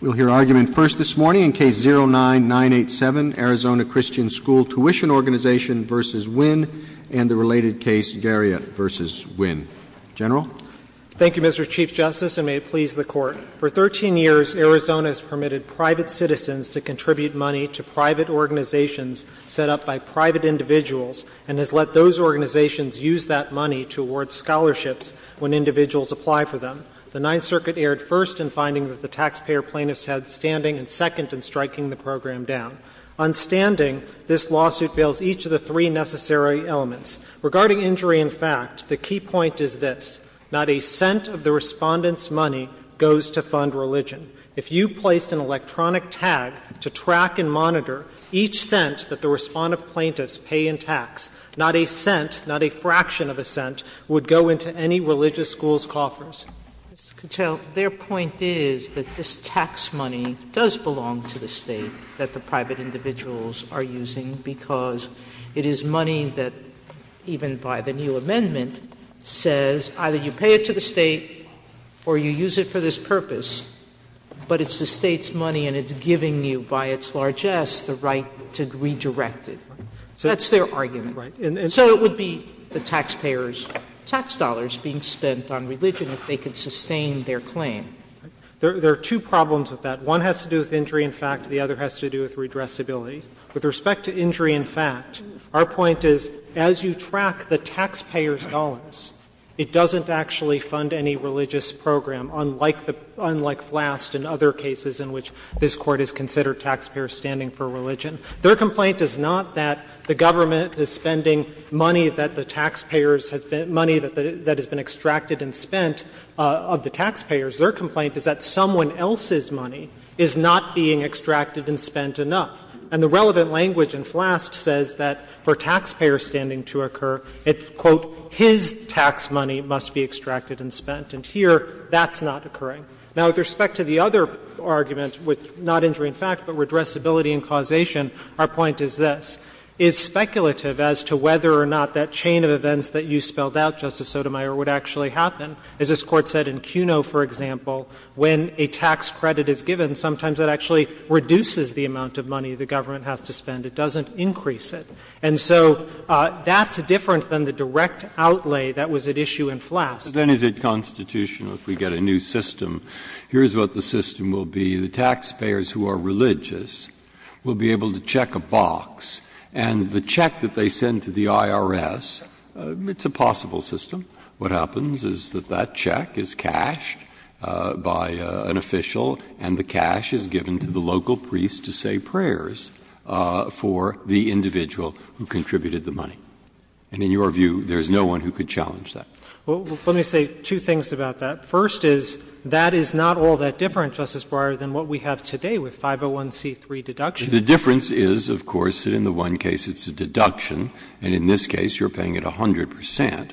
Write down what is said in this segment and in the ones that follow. We'll hear argument first this morning in Case 09-987, Arizona Christian School Tuition Organization v. Winn, and the related case, Garriott v. Winn. General? Thank you, Mr. Chief Justice, and may it please the Court. For 13 years, Arizona has permitted private citizens to contribute money to private organizations set up by private individuals, and has let those organizations use that money to award scholarships when individuals apply for them. The Ninth Circuit erred first in finding that the taxpayer plaintiffs had standing, and second in striking the program down. On standing, this lawsuit bails each of the three necessary elements. Regarding injury in fact, the key point is this. Not a cent of the respondent's money goes to fund religion. If you placed an electronic tag to track and monitor each cent that the respondent plaintiffs pay in tax, not a cent, not a fraction of a cent, would go into any religious school's coffers. Mr. Cattell, their point is that this tax money does belong to the State that the private individuals are using because it is money that, even by the new amendment, says either you pay it to the State or you use it for this purpose, but it's the State's money and it's giving you by its largesse the right to redirect it. That's their argument. So it would be the taxpayer's tax dollars being spent on religion if they could sustain their claim. There are two problems with that. One has to do with injury in fact. The other has to do with redressability. With respect to injury in fact, our point is, as you track the taxpayer's dollars, it doesn't actually fund any religious program, unlike FLAST and other cases in which this Court has considered taxpayers standing for religion. Their complaint is not that the government is spending money that the taxpayers has been — money that has been extracted and spent of the taxpayers. Their complaint is that someone else's money is not being extracted and spent enough. And the relevant language in FLAST says that for taxpayer standing to occur, it's, quote, his tax money must be extracted and spent, and here that's not occurring. Now, with respect to the other argument with not injury in fact, but redressability and causation, our point is this. It's speculative as to whether or not that chain of events that you spelled out, Justice Sotomayor, would actually happen. As this Court said in Cuno, for example, when a tax credit is given, sometimes that actually reduces the amount of money the government has to spend. It doesn't increase it. And so that's different than the direct outlay that was at issue in FLAST. Breyer. But then is it constitutional if we get a new system? Here's what the system will be. The taxpayers who are religious will be able to check a box, and the check that they send to the IRS, it's a possible system. What happens is that that check is cashed by an official, and the cash is given to the local priest to say prayers for the individual who contributed the money. And in your view, there's no one who could challenge that. Well, let me say two things about that. First is, that is not all that different, Justice Breyer, than what we have today with 501c3 deduction. The difference is, of course, that in the one case it's a deduction, and in this case you're paying it 100 percent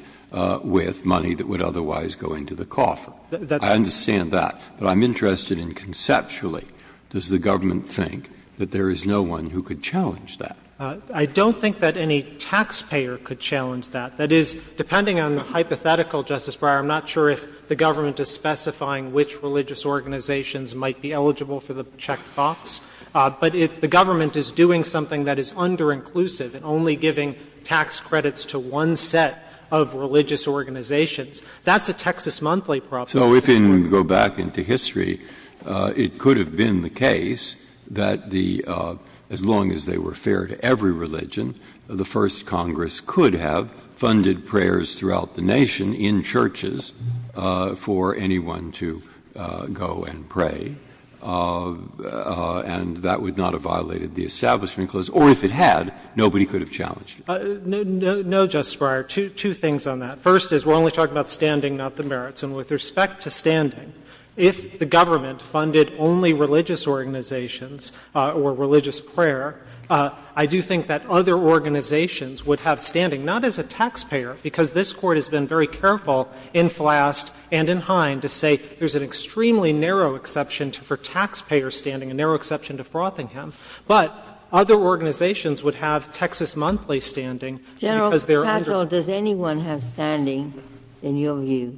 with money that would otherwise go into the coffer. I understand that. But I'm interested in conceptually, does the government think that there is no one who could challenge that? I don't think that any taxpayer could challenge that. That is, depending on the hypothetical, Justice Breyer, I'm not sure if the government is specifying which religious organizations might be eligible for the check box. But if the government is doing something that is underinclusive and only giving tax credits to one set of religious organizations, that's a Texas Monthly problem. So if you go back into history, it could have been the case that the as long as they were fair to every religion, the first Congress could have funded prayers throughout the nation in churches for anyone to go and pray, and that would not have violated the Establishment Clause, or if it had, nobody could have challenged it. No, Justice Breyer, two things on that. First is, we're only talking about standing, not the merits. And with respect to standing, if the government funded only religious organizations or religious prayer, I do think that other organizations would have standing, not as a taxpayer, because this Court has been very careful in Flast and in Hine to say there's an extremely narrow exception for taxpayer standing, a narrow exception to Frothingham, but other organizations would have Texas Monthly standing because they're under the law. Ginsburg, does anyone have standing, in your view,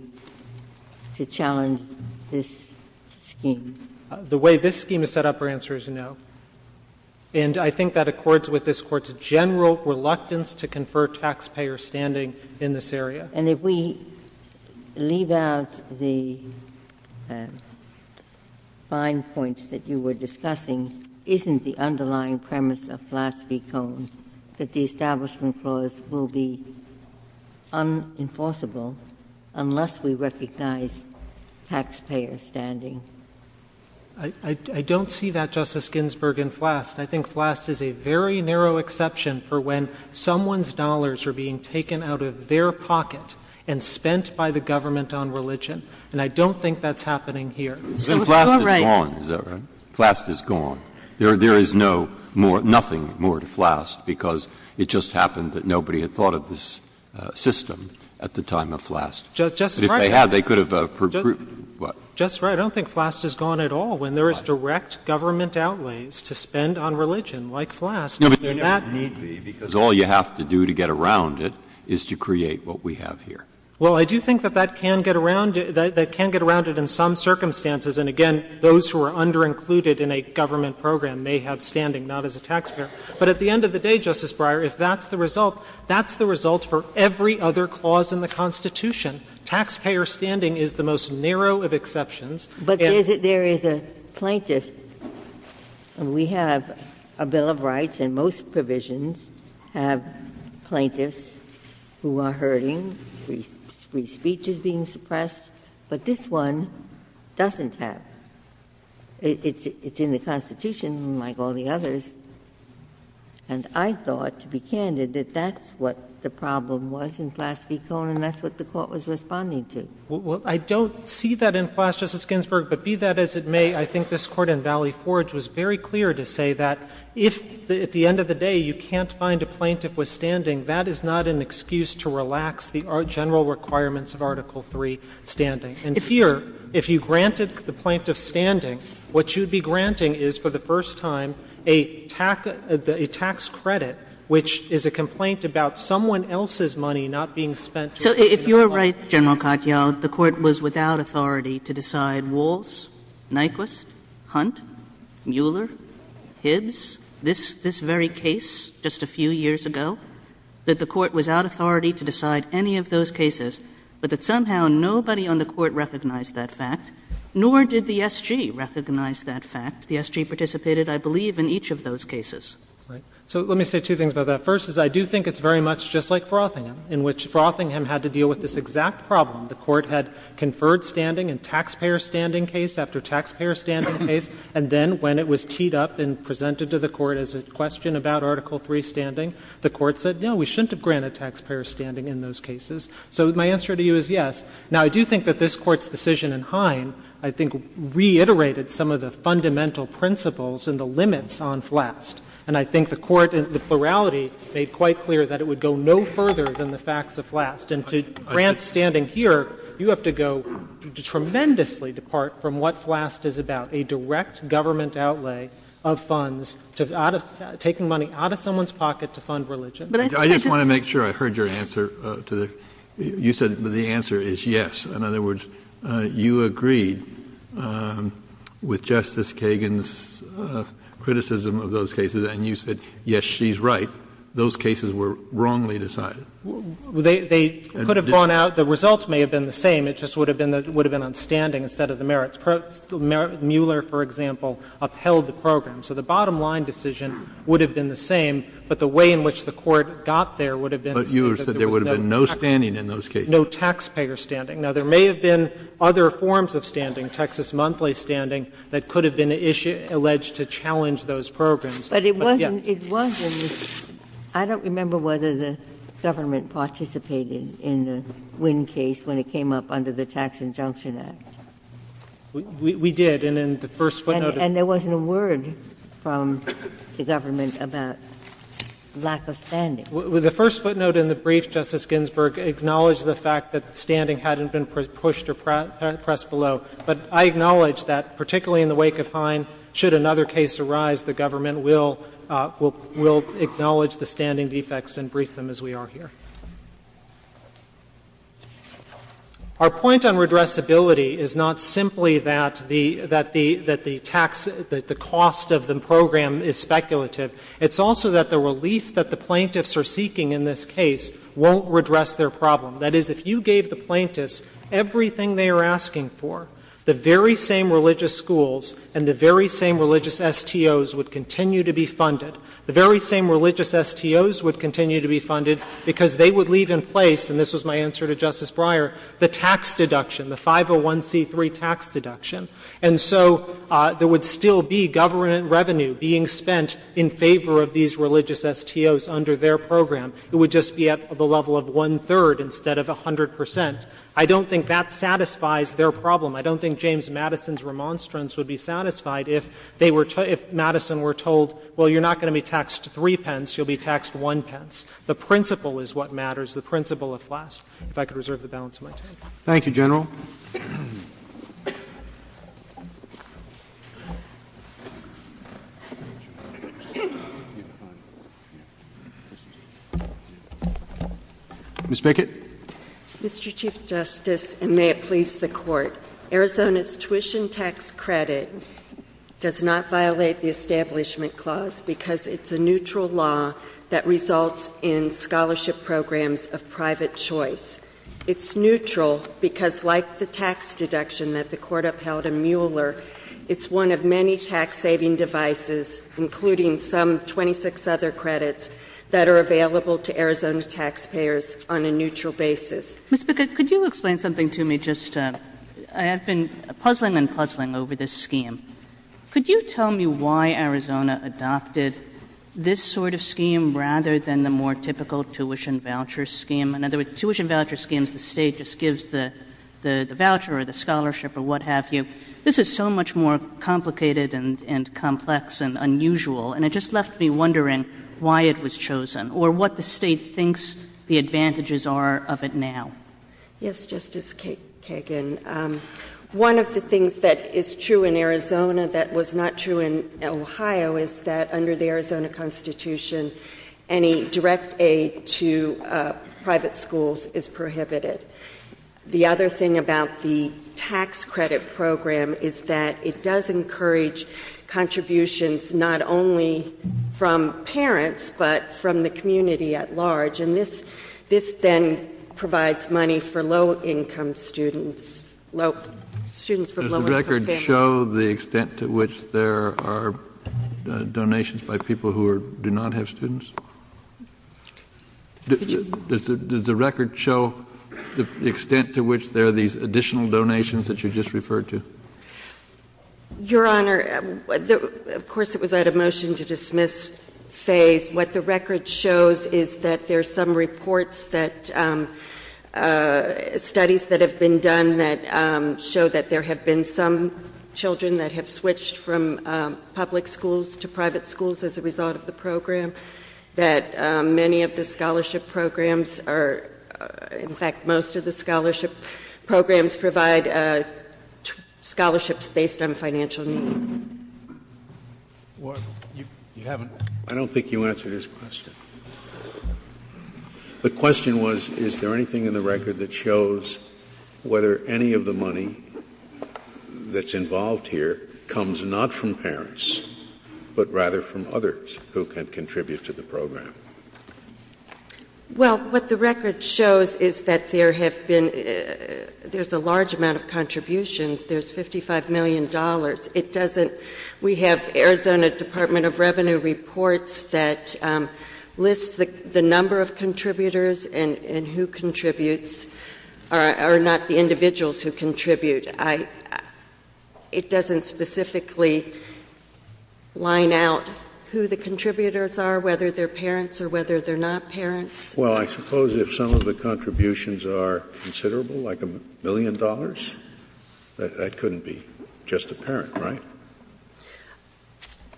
to challenge this scheme? The way this scheme is set up, our answer is no. And I think that accords with this Court's general reluctance to confer taxpayer standing in this area. And if we leave out the fine points that you were discussing, isn't the underlying premise of Flast v. Cohn that the Establishment Clause will be unenforceable unless we recognize taxpayer standing? I don't see that, Justice Ginsburg, in Flast. I think Flast is a very narrow exception for when someone's dollars are being taken out of their pocket and spent by the government on religion. And I don't think that's happening here. So it's your right. Flast is gone, is that right? Flast is gone. There is no more — nothing more to Flast, because it just happened that nobody had thought of this system at the time of Flast. Justice Breyer, I don't think Flast is gone at all when there is direct government outlays to spend on religion, like Flast. No, but there never need be, because all you have to do to get around it is to create what we have here. Well, I do think that that can get around it. That can get around it in some circumstances. And again, those who are underincluded in a government program may have standing, not as a taxpayer. But at the end of the day, Justice Breyer, if that's the result, that's the result for every other clause in the Constitution. Taxpayer standing is the most narrow of exceptions. But there is a plaintiff, and we have a bill of rights, and most provisions have plaintiffs who are hurting, free speech is being suppressed. But this one doesn't have. It's in the Constitution, like all the others. And I thought, to be candid, that that's what the problem was in Flast v. Cohn, and that's what the Court was responding to. Well, I don't see that in Flast, Justice Ginsburg, but be that as it may, I think this Court in Valley Forge was very clear to say that if, at the end of the day, you can't find a plaintiff with standing, that is not an excuse to relax the general requirements of Article III, standing. And here, if you granted the plaintiff standing, what you'd be granting is, for the first time, a tax credit, which is a complaint about someone else's money not being spent. So if you're right, General Katyal, the Court was without authority to decide Walz, Nyquist, Hunt, Mueller, Hibbs, this very case just a few years ago, that the Court recognized that fact, nor did the SG recognize that fact. The SG participated, I believe, in each of those cases. Right. So let me say two things about that. First is I do think it's very much just like Frothingham, in which Frothingham had to deal with this exact problem. The Court had conferred standing in taxpayer standing case after taxpayer standing case, and then when it was teed up and presented to the Court as a question about Article III, standing, the Court said, no, we shouldn't have granted taxpayer standing in those cases. So my answer to you is yes. Now, I do think that this Court's decision in Hine, I think, reiterated some of the fundamental principles and the limits on FLAST. And I think the Court, in the plurality, made quite clear that it would go no further than the facts of FLAST. And to Grant standing here, you have to go tremendously apart from what FLAST is about, a direct government outlay of funds, taking money out of someone's pocket to fund religion. I just want to make sure I heard your answer. You said the answer is yes. In other words, you agreed with Justice Kagan's criticism of those cases, and you said, yes, she's right. Those cases were wrongly decided. They could have gone out. The results may have been the same. It just would have been on standing instead of the merits. Mueller, for example, upheld the program. So the bottom line decision would have been the same, but the way in which the Court got there would have been the same. But you said there would have been no standing in those cases. No taxpayer standing. Now, there may have been other forms of standing, Texas monthly standing, that could have been alleged to challenge those programs. But yes. But it wasn't. It wasn't. I don't remember whether the government participated in the Wynn case when it came up under the Tax Injunction Act. We did. And in the first footnote of it. And there wasn't a word from the government about lack of standing. The first footnote in the brief, Justice Ginsburg, acknowledged the fact that standing hadn't been pushed or pressed below. But I acknowledge that, particularly in the wake of Hine, should another case arise, the government will acknowledge the standing defects and brief them as we are here. Our point on redressability is not simply that the tax, that the cost of the program is speculative. It's also that the relief that the plaintiffs are seeking in this case won't redress their problem. That is, if you gave the plaintiffs everything they are asking for, the very same religious schools and the very same religious STOs would continue to be funded. The very same religious STOs would continue to be funded because they would leave in place, and this was my answer to Justice Breyer, the tax deduction, the 501C3 tax deduction. And so there would still be government revenue being spent in favor of these religious STOs under their program. It would just be at the level of one-third instead of 100 percent. I don't think that satisfies their problem. I don't think James Madison's remonstrance would be satisfied if they were, if you're not going to be taxed three pence, you'll be taxed one pence. The principle is what matters. The principle of class. If I could reserve the balance of my time. Thank you, General. Ms. Bickett. Mr. Chief Justice, and may it please the Court, Arizona's tuition tax credit does not violate the Establishment Clause because it's a neutral law that results in scholarship programs of private choice. It's neutral because, like the tax deduction that the Court upheld in Mueller, it's one of many tax-saving devices, including some 26 other credits, that are available to Arizona taxpayers on a neutral basis. Ms. Bickett, could you explain something to me? I have been puzzling and puzzling over this scheme. Could you tell me why Arizona adopted this sort of scheme rather than the more typical tuition voucher scheme? In other words, tuition voucher schemes, the State just gives the voucher or the scholarship or what have you. This is so much more complicated and complex and unusual, and it just left me wondering why it was chosen or what the State thinks the advantages are of it now. Yes, Justice Kagan. One of the things that is true in Arizona that was not true in Ohio is that under the Arizona Constitution, any direct aid to private schools is prohibited. The other thing about the tax credit program is that it does encourage contributions not only from parents, but from the community at large. And this then provides money for low-income students, low-income families. Does the record show the extent to which there are donations by people who do not have students? Does the record show the extent to which there are these additional donations that you just referred to? Your Honor, of course it was at a motion to dismiss phase. What the record shows is that there are some reports that studies that have been done that show that there have been some children that have switched from public schools to private schools as a result of the program, that many of the scholarship programs are, in fact, most of the scholarship programs provide scholarships based on financial need. I don't think you answered his question. The question was, is there anything in the record that shows whether any of the money that's involved here comes not from parents, but rather from others who can contribute to the program? Well, what the record shows is that there have been — there's a large amount of contributions. There's $55 million. It doesn't — we have Arizona Department of Revenue reports that list the number of contributors and who contributes, or not the individuals who contribute. It doesn't specifically line out who the contributors are, whether they're parents or whether they're not parents. Well, I suppose if some of the contributions are considerable, like a million dollars, that couldn't be just a parent, right?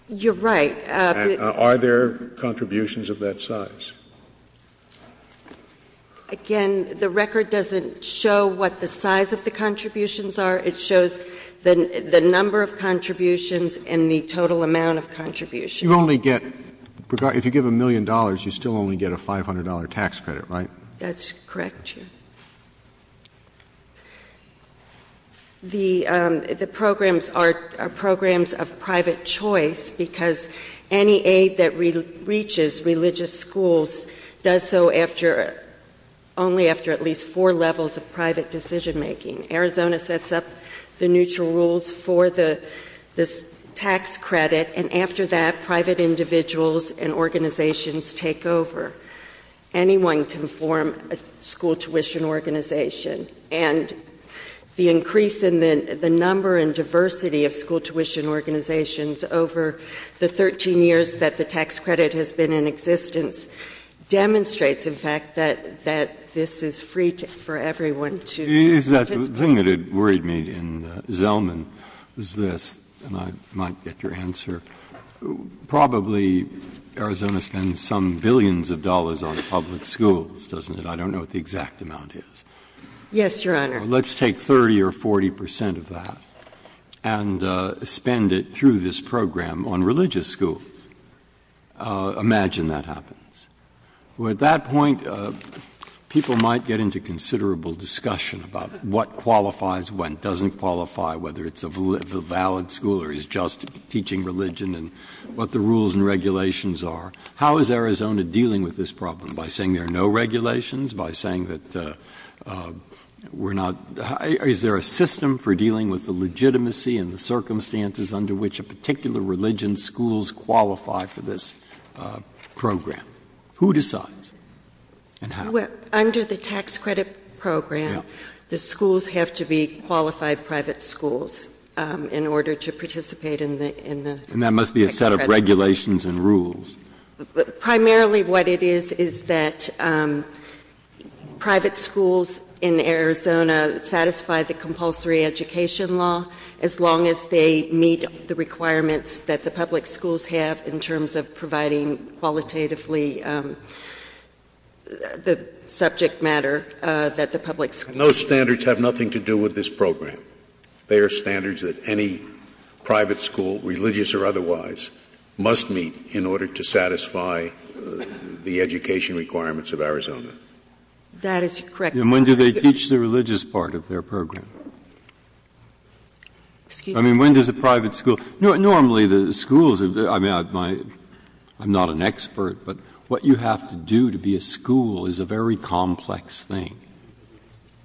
You're right. Are there contributions of that size? Again, the record doesn't show what the size of the contributions are. It shows the number of contributions and the total amount of contributions. You only get — if you give a million dollars, you still only get a $500 tax credit, right? That's correct, Your Honor. The programs are programs of private choice, because any aid that reaches religious schools does so after — only after at least four levels of private decision-making. Arizona sets up the neutral rules for the tax credit, and after that, private individuals and organizations take over. Anyone can form a school tuition organization. And the increase in the number and diversity of school tuition organizations over the 13 years that the tax credit has been in existence demonstrates, in fact, that this is free for everyone to participate. The thing that had worried me in Zelman was this, and I might get your answer. Probably Arizona spends some billions of dollars on public schools, doesn't it? I don't know what the exact amount is. Yes, Your Honor. Let's take 30 or 40 percent of that and spend it through this program on religious schools. Imagine that happens. At that point, people might get into considerable discussion about what qualifies when, doesn't qualify, whether it's a valid school or is just teaching religion and what the rules and regulations are. How is Arizona dealing with this problem? By saying there are no regulations? By saying that we're not — is there a system for dealing with the legitimacy and the circumstances under which a particular religion's schools qualify for this program? Who decides? And how? Well, under the tax credit program, the schools have to be qualified private schools in order to participate in the tax credit program. And that must be a set of regulations and rules. Primarily what it is is that private schools in Arizona satisfy the compulsory education law as long as they meet the requirements that the public schools have in terms of providing qualitatively the subject matter that the public schools meet. And those standards have nothing to do with this program. They are standards that any private school, religious or otherwise, must meet in order to satisfy the education requirements of Arizona. That is correct. And when do they teach the religious part of their program? Excuse me. I mean, when does a private school — normally the schools — I mean, I'm not an expert, but what you have to do to be a school is a very complex thing.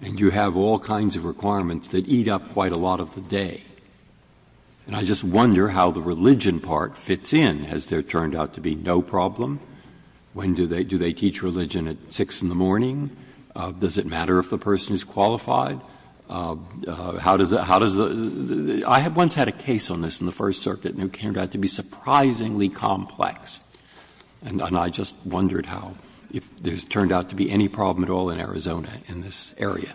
And you have all kinds of requirements that eat up quite a lot of the day. And I just wonder how the religion part fits in. Has there turned out to be no problem? When do they — do they teach religion at 6 in the morning? Does it matter if the person is qualified? How does the — I once had a case on this in the First Circuit, and it turned out to be surprisingly complex. And I just wondered how — if there's turned out to be any problem at all in Arizona in this area.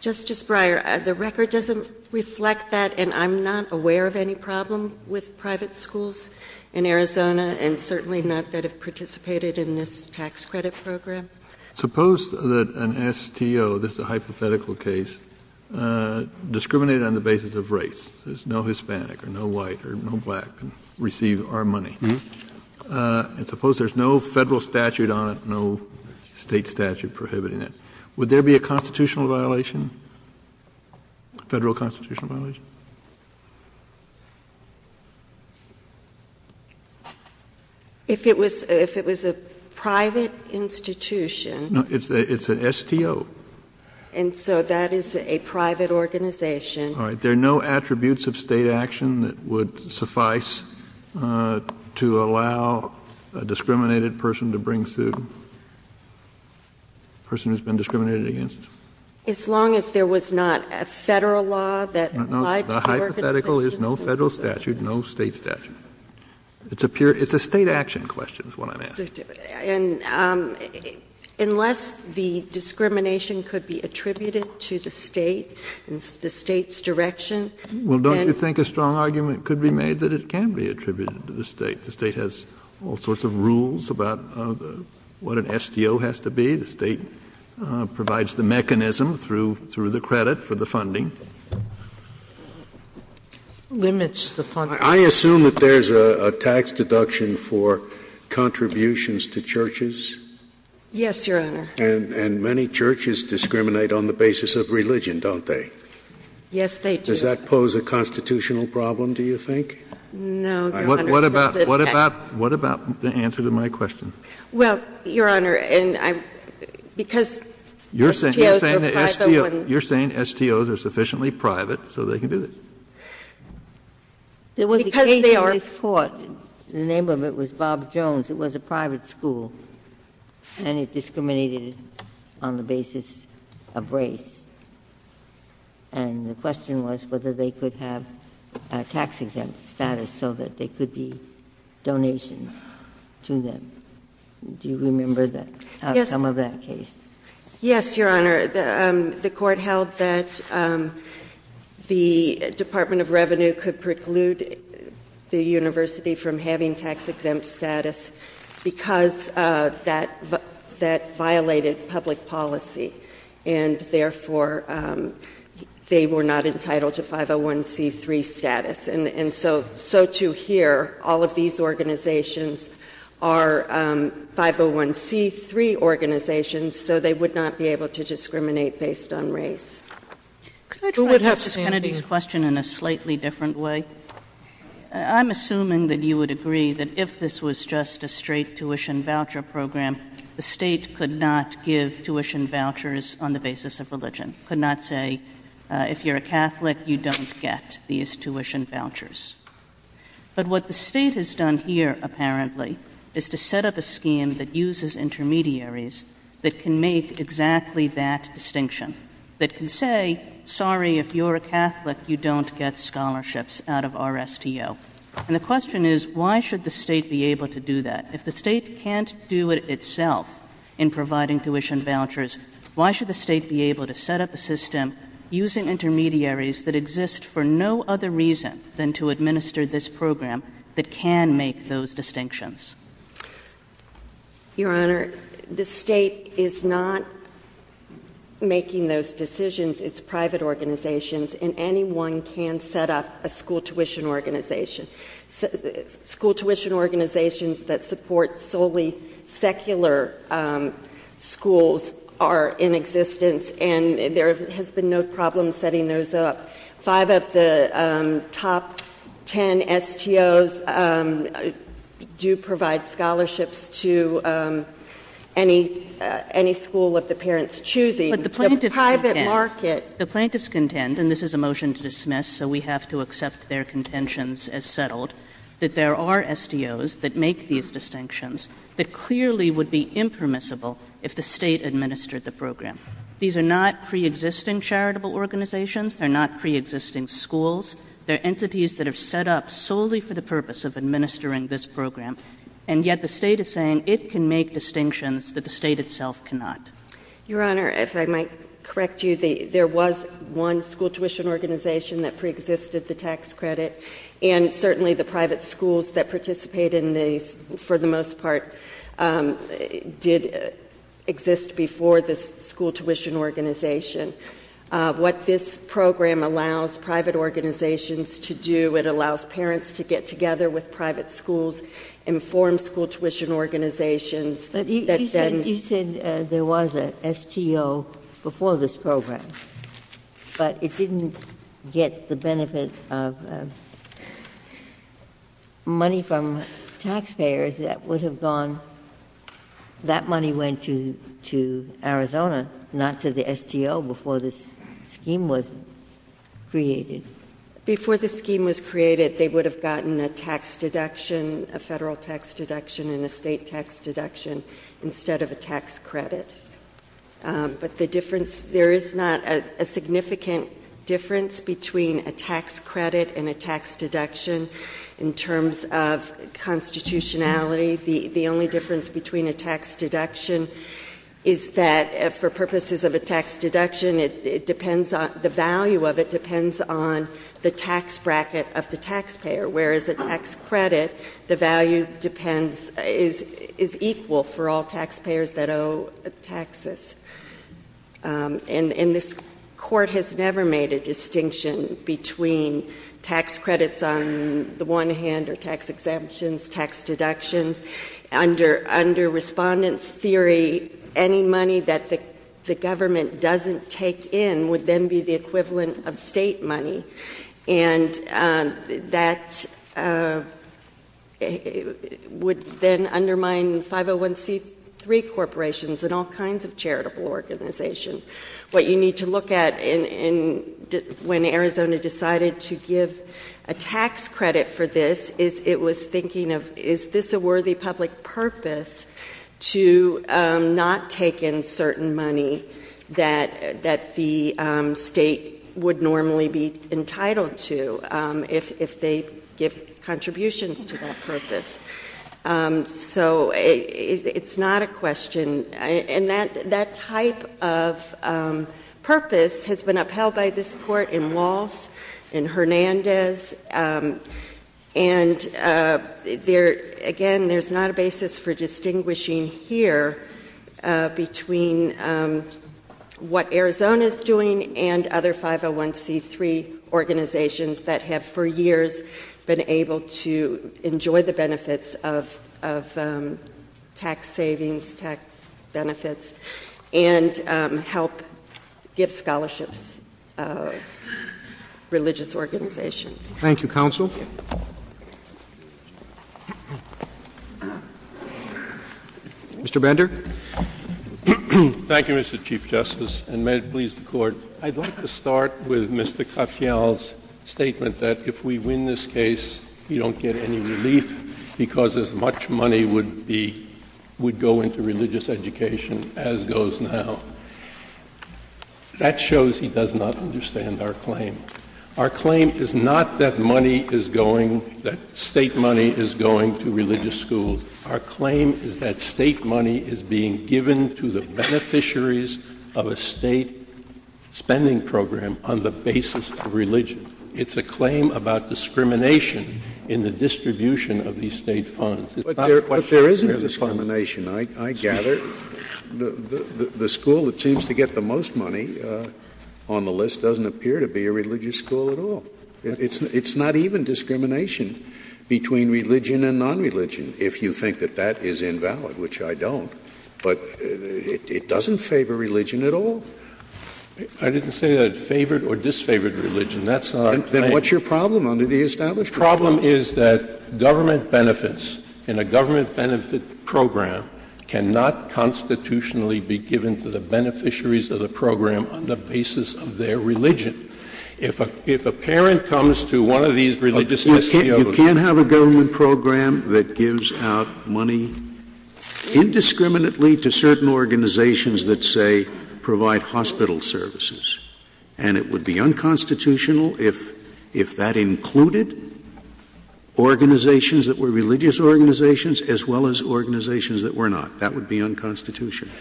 Justice Breyer, the record doesn't reflect that, and I'm not aware of any problem with private schools in Arizona, and certainly not that have participated in this tax credit program. Suppose that an STO — this is a hypothetical case — discriminated on the basis of race. There's no Hispanic or no white or no black can receive our money. And suppose there's no federal statute on it, no state statute prohibiting it. Would there be a constitutional violation, a federal constitutional violation? If it was — if it was a private institution — No, it's an STO. And so that is a private organization. All right. There are no attributes of state action that would suffice to allow a discriminated person to bring suit, a person who's been discriminated against? As long as there was not a federal law that — No, the hypothetical is no federal statute, no state statute. It's a pure — it's a state action question is what I'm asking. Absolutely. And unless the discrimination could be attributed to the State and the State's direction, then — Well, don't you think a strong argument could be made that it can be attributed to the State? The State has all sorts of rules about what an STO has to be. The State provides the mechanism through — through the credit for the funding. Limits the funding. I assume that there's a tax deduction for contributions to churches? Yes, Your Honor. And many churches discriminate on the basis of religion, don't they? Yes, they do. Does that pose a constitutional problem, do you think? No, Your Honor. What about — what about — what about the answer to my question? Well, Your Honor, and I'm — because STOs are private — You're saying that STOs — you're saying STOs are sufficiently private so they can do this? There was a case in this Court — Because they are — The name of it was Bob Jones. It was a private school, and it discriminated on the basis of race. And the question was whether they could have a tax-exempt status so that there could be donations to them. Do you remember the outcome of that case? Yes, Your Honor. The Court held that the Department of Revenue could preclude the university from having tax-exempt status because that violated public policy. And therefore, they were not entitled to 501c3 status. And so to hear all of these organizations are 501c3 organizations, so they would not be able to discriminate based on race. Could I try Justice Kennedy's question in a slightly different way? I'm assuming that you would agree that if this was just a straight tuition voucher program, the State could not give tuition vouchers on the basis of religion, could not say, if you're a Catholic, you don't get these tuition vouchers. But what the State has done here, apparently, is to set up a scheme that can make exactly that distinction, that can say, sorry, if you're a Catholic, you don't get scholarships out of RSTO. And the question is, why should the State be able to do that? If the State can't do it itself in providing tuition vouchers, why should the State be able to set up a system using intermediaries that exist for no other reason than to administer this program that can make those distinctions? Your Honor, the State is not making those decisions. It's private organizations, and anyone can set up a school tuition organization. School tuition organizations that support solely secular schools are in existence, and there has been no problem setting those up. Five of the top ten STOs do provide scholarships to any school of the parents' choosing. But the plaintiffs contend, and this is a motion to dismiss, so we have to accept their contentions as settled, that there are STOs that make these distinctions that clearly would be impermissible if the State administered the program. These are not preexisting charitable organizations. They're not preexisting schools. They're entities that are set up solely for the purpose of administering this program. And yet the State is saying it can make distinctions that the State itself cannot. Your Honor, if I might correct you, there was one school tuition organization that preexisted the tax credit, and certainly the private schools that participate in these, for the most part, did exist before this school tuition organization. What this program allows private organizations to do, it allows parents to get together with private schools, inform school tuition organizations. But you said there was an STO before this program, but it didn't get the benefit of money from taxpayers that would have gone, that money went to taxpayers before this scheme was created. Before this scheme was created, they would have gotten a tax deduction, a Federal tax deduction and a State tax deduction instead of a tax credit. But the difference, there is not a significant difference between a tax credit and a tax deduction in terms of constitutionality. The only difference between a tax deduction is that for purposes of a tax deduction, it depends on, the value of it depends on the tax bracket of the taxpayer, whereas a tax credit, the value depends, is equal for all taxpayers that owe taxes. And this Court has never made a distinction between tax credits on the one hand or tax exemptions, tax deductions. Under respondents' theory, any money that the government doesn't take in would then be the equivalent of State money. And that would then undermine 501C3 corporations and all kinds of charitable organizations. What you need to look at when Arizona decided to give a tax credit for this is it was thinking of, is this a worthy public purpose to not take in certain money that the State would normally be entitled to if they give contributions to that purpose. So it's not a question. And that type of purpose has been upheld by this Court in Walsh, in Hernandez, and there, again, there's not a basis for distinguishing here between what Arizona's doing and other 501C3 organizations that have for years been able to enjoy the benefits of tax savings, tax benefits, and help give scholarships to those religious organizations. Thank you, counsel. Mr. Bender. Thank you, Mr. Chief Justice, and may it please the Court. I'd like to start with Mr. Katyal's statement that if we win this case, you don't get any relief because as much money would go into religious education as goes now. That shows he does not understand our claim. Our claim is not that money is going, that State money is going to religious schools. Our claim is that State money is being given to the beneficiaries of a State spending program on the basis of religion. It's a claim about discrimination in the distribution of these State funds. But there isn't discrimination. I gather the school that seems to get the most money on the list doesn't appear to be a religious school at all. It's not even discrimination between religion and nonreligion, if you think that that is invalid, which I don't. But it doesn't favor religion at all. I didn't say that it favored or disfavored religion. That's not our claim. Then what's your problem under the establishment? My problem is that government benefits in a government benefit program cannot constitutionally be given to the beneficiaries of the program on the basis of their religion. If a parent comes to one of these religious schools. You can't have a government program that gives out money indiscriminately to certain organizations that say provide hospital services. And it would be unconstitutional if that included organizations that were religious organizations as well as organizations that were not. That would be unconstitutional.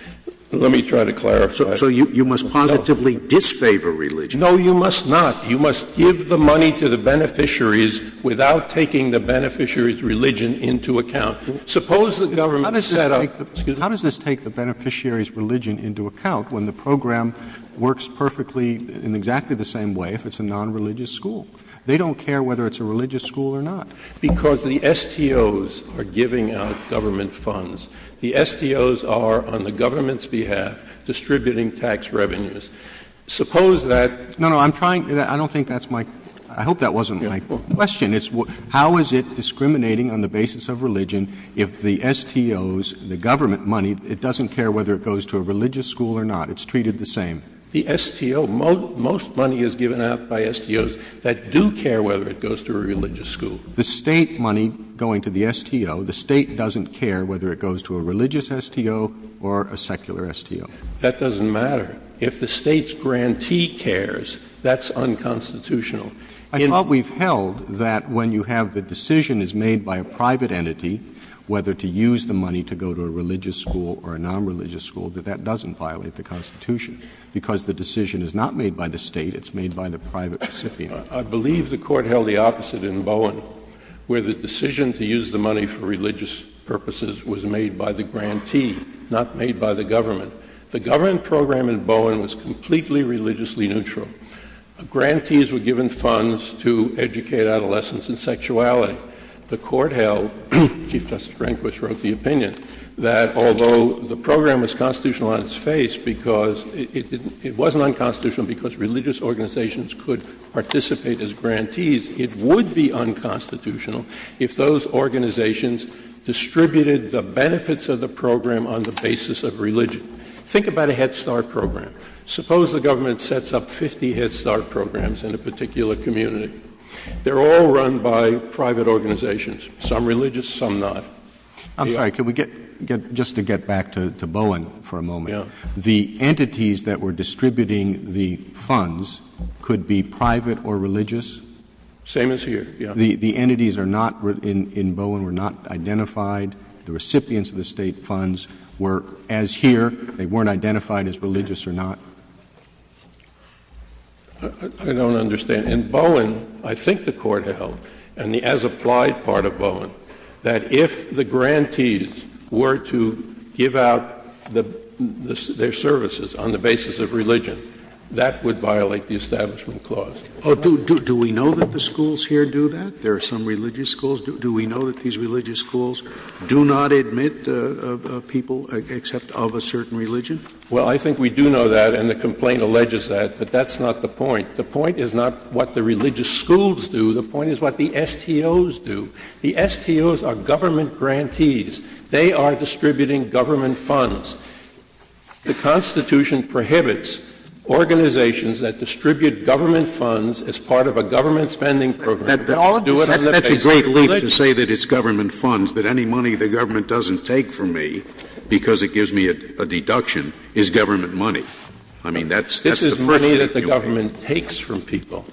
Let me try to clarify. So you must positively disfavor religion. No, you must not. You must give the money to the beneficiaries without taking the beneficiary's religion into account. Suppose the government set up. How does this take the beneficiary's religion into account when the program works perfectly in exactly the same way if it's a nonreligious school? They don't care whether it's a religious school or not. Because the STOs are giving out government funds. The STOs are on the government's behalf distributing tax revenues. Suppose that. No, no. I'm trying. I don't think that's my. I hope that wasn't my question. How is it discriminating on the basis of religion if the STOs, the government money, it doesn't care whether it goes to a religious school or not. It's treated the same. The STO. Most money is given out by STOs that do care whether it goes to a religious school. The State money going to the STO, the State doesn't care whether it goes to a religious STO or a secular STO. That doesn't matter. If the State's grantee cares, that's unconstitutional. I thought we've held that when you have the decision is made by a private entity, whether to use the money to go to a religious school or a nonreligious school, that that doesn't violate the Constitution. Because the decision is not made by the State, it's made by the private recipient. I believe the Court held the opposite in Bowen, where the decision to use the money for religious purposes was made by the grantee, not made by the government. The government program in Bowen was completely religiously neutral. Grantees were given funds to educate adolescents in sexuality. The Court held, Chief Justice Rehnquist wrote the opinion, that although the program was constitutional on its face because it wasn't unconstitutional because religious organizations could participate as grantees, it would be unconstitutional if those organizations distributed the benefits of the program on the basis of religion. Think about a Head Start program. Suppose the government sets up 50 Head Start programs in a particular community. They're all run by private organizations, some religious, some not. I'm sorry, could we get, just to get back to Bowen for a moment. Yeah. The entities that were distributing the funds could be private or religious? Same as here, yeah. The entities are not, in Bowen, were not identified. The recipients of the State funds were, as here, they weren't identified as religious or not? I don't understand. In Bowen, I think the Court held, and the as-applied part of Bowen, that if the grantees were to give out their services on the basis of religion, that would violate the Establishment Clause. Do we know that the schools here do that? There are some religious schools. Do we know that these religious schools do not admit people except of a certain religion? Well, I think we do know that, and the complaint alleges that. But that's not the point. The point is not what the religious schools do. The point is what the STOs do. The STOs are government grantees. They are distributing government funds. The Constitution prohibits organizations that distribute government funds as part of a government spending program to do it on the basis of religion. To say that it's government funds, that any money the government doesn't take from me because it gives me a deduction, is government money. I mean, that's the first thing you'll hear. This is money that the government takes from people.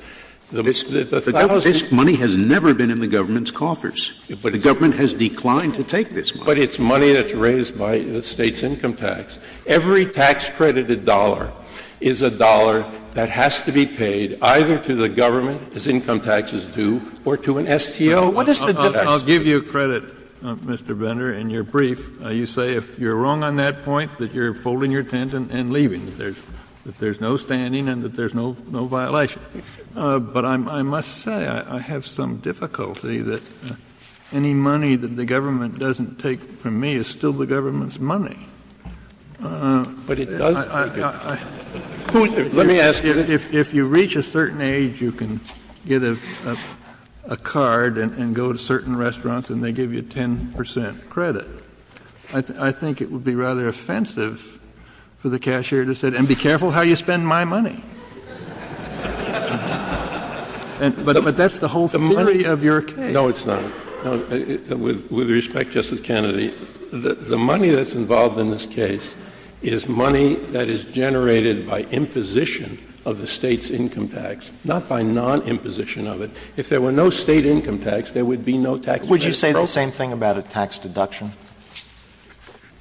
This money has never been in the government's coffers. But the government has declined to take this money. But it's money that's raised by the State's income tax. Every tax-credited dollar is a dollar that has to be paid either to the government as income tax is due or to an STO. What is the difference? I'll give you credit, Mr. Bender, in your brief. You say if you're wrong on that point that you're folding your tent and leaving, that there's no standing and that there's no violation. But I must say I have some difficulty that any money that the government doesn't take from me is still the government's money. But it does? Let me ask you. If you reach a certain age, you can get a card and go to certain restaurants and they give you 10 percent credit. I think it would be rather offensive for the cashier to say, and be careful how you spend my money. But that's the whole theory of your case. No, it's not. With respect, Justice Kennedy, the money that's involved in this case is money that is generated by imposition of the State's income tax, not by non-imposition of it. If there were no State income tax, there would be no tax credit. Would you say the same thing about a tax deduction?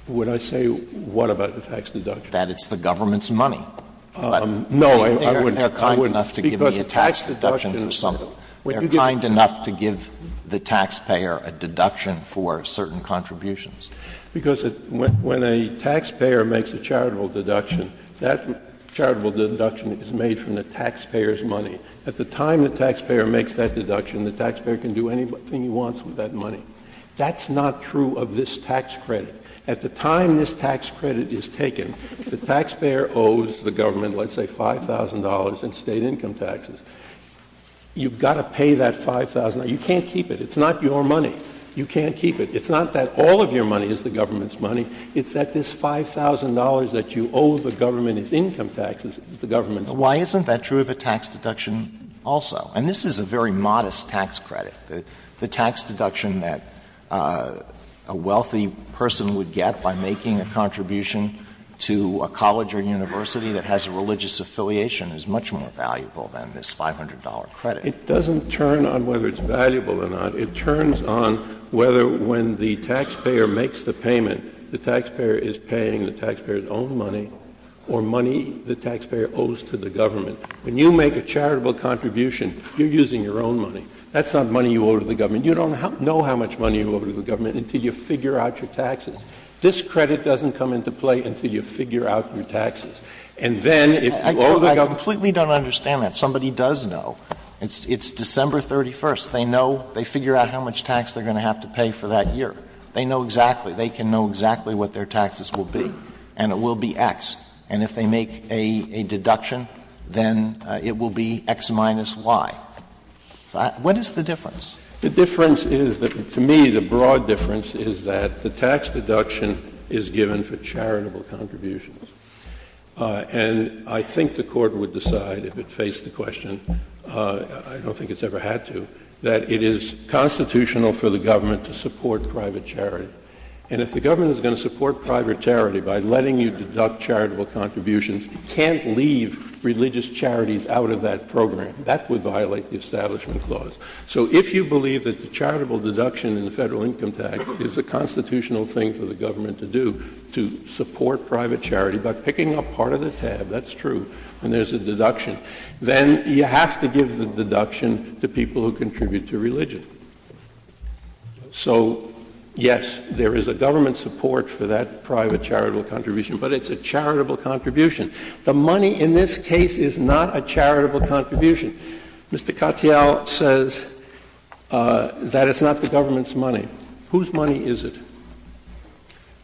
Would I say what about a tax deduction? That it's the government's money. No, I wouldn't. They're kind enough to give me a tax deduction for something. They're kind enough to give the taxpayer a deduction for certain contributions. Because when a taxpayer makes a charitable deduction, that charitable deduction is made from the taxpayer's money. At the time the taxpayer makes that deduction, the taxpayer can do anything he wants with that money. That's not true of this tax credit. At the time this tax credit is taken, the taxpayer owes the government, let's say, $5,000 in State income taxes. You've got to pay that $5,000. You can't keep it. It's not your money. You can't keep it. It's not that all of your money is the government's money. It's that this $5,000 that you owe the government as income taxes is the government's money. Why isn't that true of a tax deduction also? And this is a very modest tax credit. The tax deduction that a wealthy person would get by making a contribution to a college or university that has a religious affiliation is much more valuable than this $500 credit. It doesn't turn on whether it's valuable or not. It turns on whether when the taxpayer makes the payment, the taxpayer is paying the taxpayer's own money or money the taxpayer owes to the government. When you make a charitable contribution, you're using your own money. That's not money you owe to the government. You don't know how much money you owe to the government until you figure out your taxes. This credit doesn't come into play until you figure out your taxes. And then if you owe the government. I completely don't understand that. Somebody does know. It's December 31st. They know. They figure out how much tax they're going to have to pay for that year. They know exactly. They can know exactly what their taxes will be. And it will be X. And if they make a deduction, then it will be X minus Y. What is the difference? The difference is that, to me, the broad difference is that the tax deduction is given for charitable contributions. And I think the Court would decide, if it faced the question, I don't think it's ever had to, that it is constitutional for the government to support private charity. And if the government is going to support private charity by letting you deduct charitable contributions, it can't leave religious charities out of that program. That would violate the Establishment Clause. So if you believe that the charitable deduction in the Federal Income Tax is a constitutional thing for the government to do, to support private charity by picking up part of the tab, that's true, and there's a deduction, then you have to give the people who contribute to religion. So, yes, there is a government support for that private charitable contribution, but it's a charitable contribution. The money in this case is not a charitable contribution. Mr. Katyal says that it's not the government's money. Whose money is it?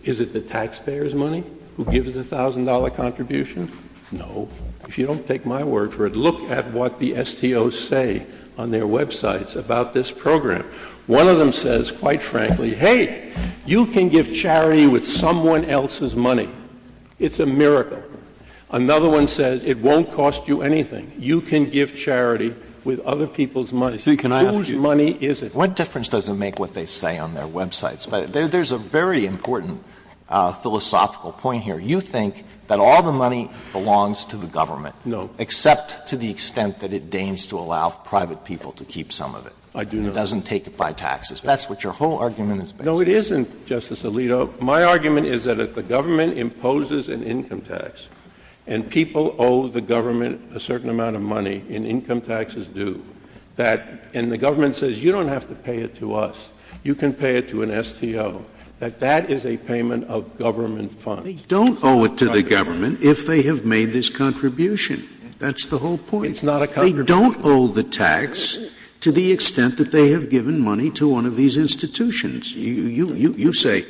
Is it the taxpayer's money who gives the $1,000 contribution? No. If you don't take my word for it, look at what the STOs say on their websites about this program. One of them says, quite frankly, hey, you can give charity with someone else's money. It's a miracle. Another one says it won't cost you anything. You can give charity with other people's money. Whose money is it? What difference does it make what they say on their websites? There's a very important philosophical point here. You think that all the money belongs to the government. No. Except to the extent that it deigns to allow private people to keep some of it. I do not. It doesn't take it by taxes. That's what your whole argument is based on. No, it isn't, Justice Alito. My argument is that if the government imposes an income tax, and people owe the government a certain amount of money, and income taxes do, that the government says you don't have to pay it to us, you can pay it to an STO, that that is a payment of government funds. They don't owe it to the government if they have made this contribution. That's the whole point. It's not a contribution. They don't owe the tax to the extent that they have given money to one of these institutions. You say,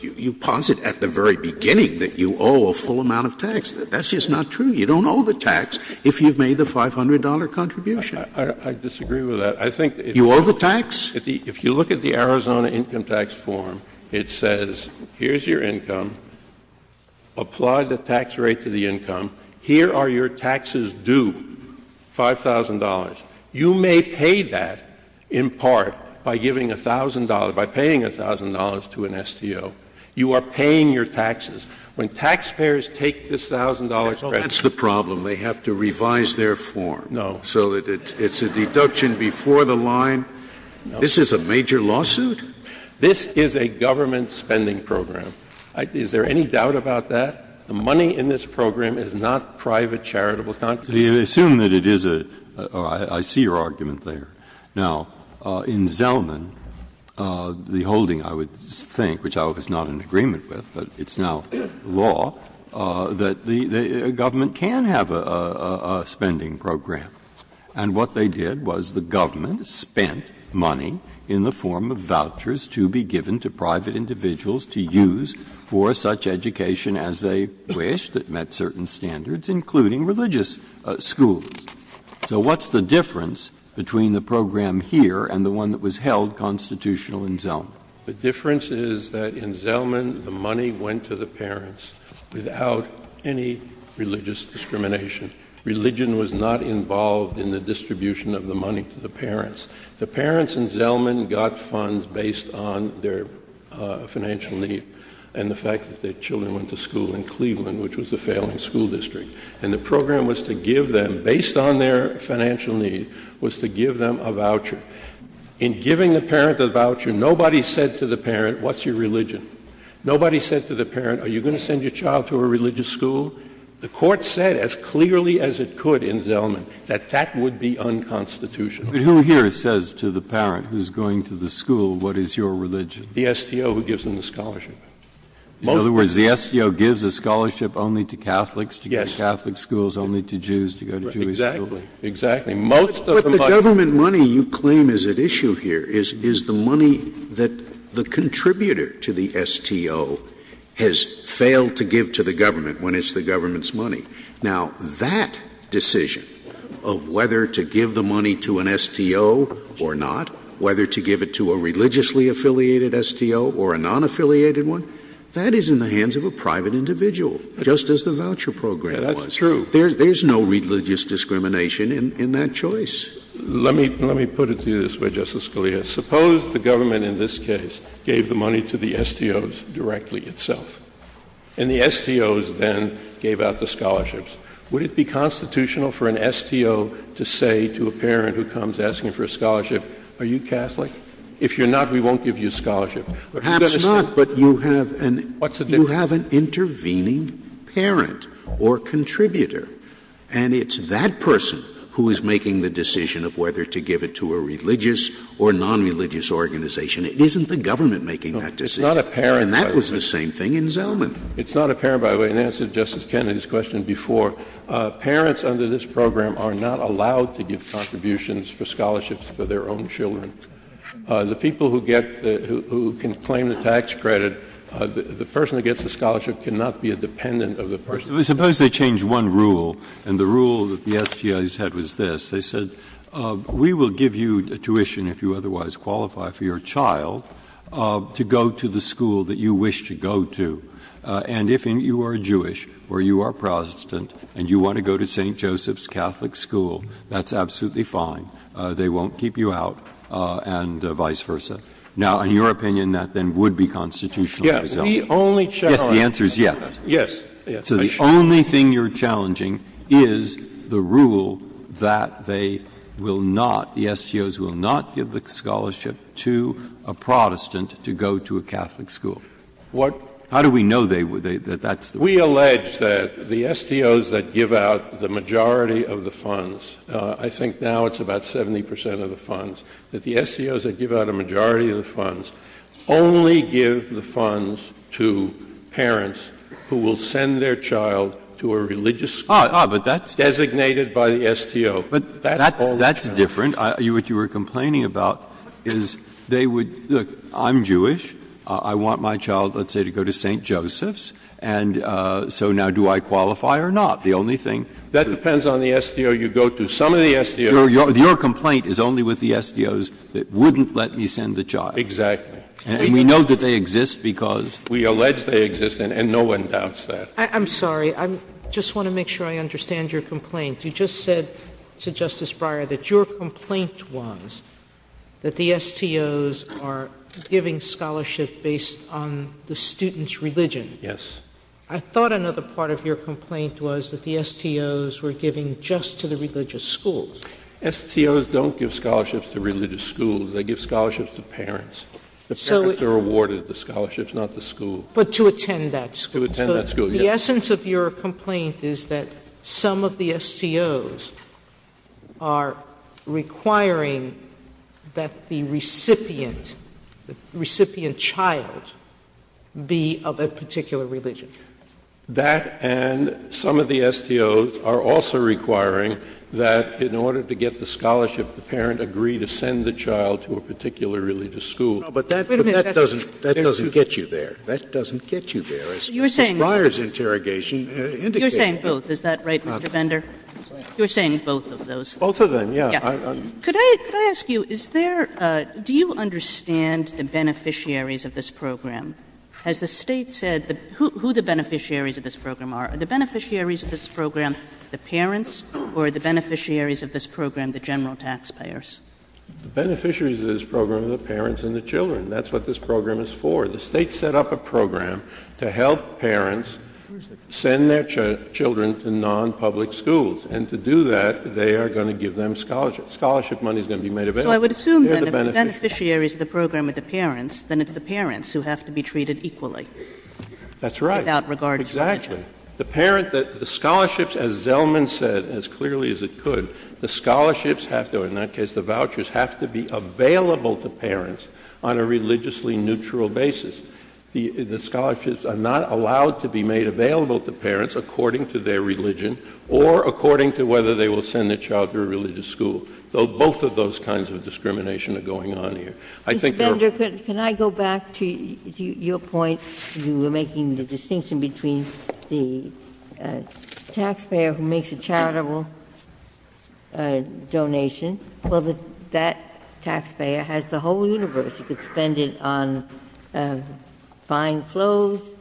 you posit at the very beginning that you owe a full amount of tax. That's just not true. You don't owe the tax if you've made the $500 contribution. I disagree with that. I think that if you look at the Arizona income tax form, it says here's your income, apply the tax rate to the income, here are your taxes due, $5,000. You may pay that, in part, by giving $1,000, by paying $1,000 to an STO. You are paying your taxes. When taxpayers take this $1,000 credit. That's the problem. They have to revise their form. No. So it's a deduction before the line. No. This is a major lawsuit? This is a government spending program. Is there any doubt about that? The money in this program is not private charitable contributions. Breyer, I see your argument there. Now, in Zellman, the holding, I would think, which I was not in agreement with, but it's now law, that the government can have a spending program. And what they did was the government spent money in the form of vouchers to be given to private individuals to use for such education as they wished that met certain standards, including religious schools. So what's the difference between the program here and the one that was held constitutional in Zellman? The difference is that in Zellman, the money went to the parents without any religious discrimination. The parents in Zellman got funds based on their financial need and the fact that their children went to school in Cleveland, which was a failing school district. And the program was to give them, based on their financial need, was to give them a voucher. In giving the parent a voucher, nobody said to the parent, what's your religion? Nobody said to the parent, are you going to send your child to a religious school? The Court said as clearly as it could in Zellman that that would be unconstitutional. But who here says to the parent who's going to the school, what is your religion? The STO, who gives them the scholarship. In other words, the STO gives a scholarship only to Catholics to go to Catholic schools, only to Jews to go to Jewish schools? Exactly. Exactly. Most of the money you claim is at issue here is the money that the contributor to the STO has failed to give to the government when it's the government's money. Now, that decision of whether to give the money to an STO or not, whether to give it to a religiously affiliated STO or a non-affiliated one, that is in the hands of a private individual, just as the voucher program was. That's true. There's no religious discrimination in that choice. Let me put it to you this way, Justice Scalia. Suppose the government in this case gave the money to the STOs directly itself. And the STOs then gave out the scholarships. Would it be constitutional for an STO to say to a parent who comes asking for a scholarship, are you Catholic? If you're not, we won't give you a scholarship. Perhaps not, but you have an intervening parent or contributor. And it's that person who is making the decision of whether to give it to a religious or non-religious organization. It's not a parent, by the way. And that was the same thing in Zellman. It's not a parent, by the way, in answer to Justice Kennedy's question before. Parents under this program are not allowed to give contributions for scholarships for their own children. The people who get the ‑‑ who can claim the tax credit, the person who gets the scholarship cannot be a dependent of the person. Suppose they change one rule, and the rule that the STOs had was this. They said, we will give you tuition if you otherwise qualify for your child to go to the school that you wish to go to. And if you are Jewish or you are Protestant and you want to go to St. Joseph's Catholic school, that's absolutely fine. They won't keep you out, and vice versa. Now, in your opinion, that then would be constitutionally exempt. The answer is yes. So the only thing you're challenging is the rule that they will not, the STOs will not give the scholarship to a Protestant to go to a Catholic school. How do we know that that's the rule? We allege that the STOs that give out the majority of the funds, I think now it's about 70 percent of the funds, that the STOs that give out a majority of the funds only give the funds to parents who will send their child to a religious school designated by the STO. But that's different. What you were complaining about is they would, look, I'm Jewish, I want my child, let's say, to go to St. Joseph's, and so now do I qualify or not? The only thing. That depends on the STO you go to. Some of the STOs. Your complaint is only with the STOs that wouldn't let me send the child. Exactly. And we know that they exist because. We allege they exist, and no one doubts that. I'm sorry. I just want to make sure I understand your complaint. You just said to Justice Breyer that your complaint was that the STOs are giving scholarship based on the student's religion. Yes. I thought another part of your complaint was that the STOs were giving just to the religious schools. STOs don't give scholarships to religious schools. They give scholarships to parents. The parents are awarded the scholarships, not the school. But to attend that school. To attend that school, yes. The essence of your complaint is that some of the STOs are requiring that the recipient child be of a particular religion. That and some of the STOs are also requiring that in order to get the scholarship the parent agree to send the child to a particular religious school. But that doesn't get you there. That doesn't get you there. Justice Breyer's interrogation indicated that. You're saying both. Is that right, Mr. Bender? You're saying both of those. Both of them, yes. Could I ask you, is there — do you understand the beneficiaries of this program? Has the State said who the beneficiaries of this program are? Are the beneficiaries of this program the parents, or are the beneficiaries of this program the general taxpayers? The beneficiaries of this program are the parents and the children. That's what this program is for. The State set up a program to help parents send their children to non-public schools. And to do that, they are going to give them scholarship. Scholarship money is going to be made available. So I would assume that if the beneficiary is the program of the parents, then it's the parents who have to be treated equally. That's right. Without regard to — Exactly. The parent — the scholarships, as Zellman said as clearly as it could, the scholarships have to — in that case, the vouchers have to be available to parents on a religiously neutral basis. The scholarships are not allowed to be made available to parents according to their religion or according to whether they will send their child to a religious school. So both of those kinds of discrimination are going on here. I think there are — Mr. Fender, can I go back to your point? You were making the distinction between the taxpayer who makes a charitable donation. Well, that taxpayer has the whole universe. He could spend it on fine clothes,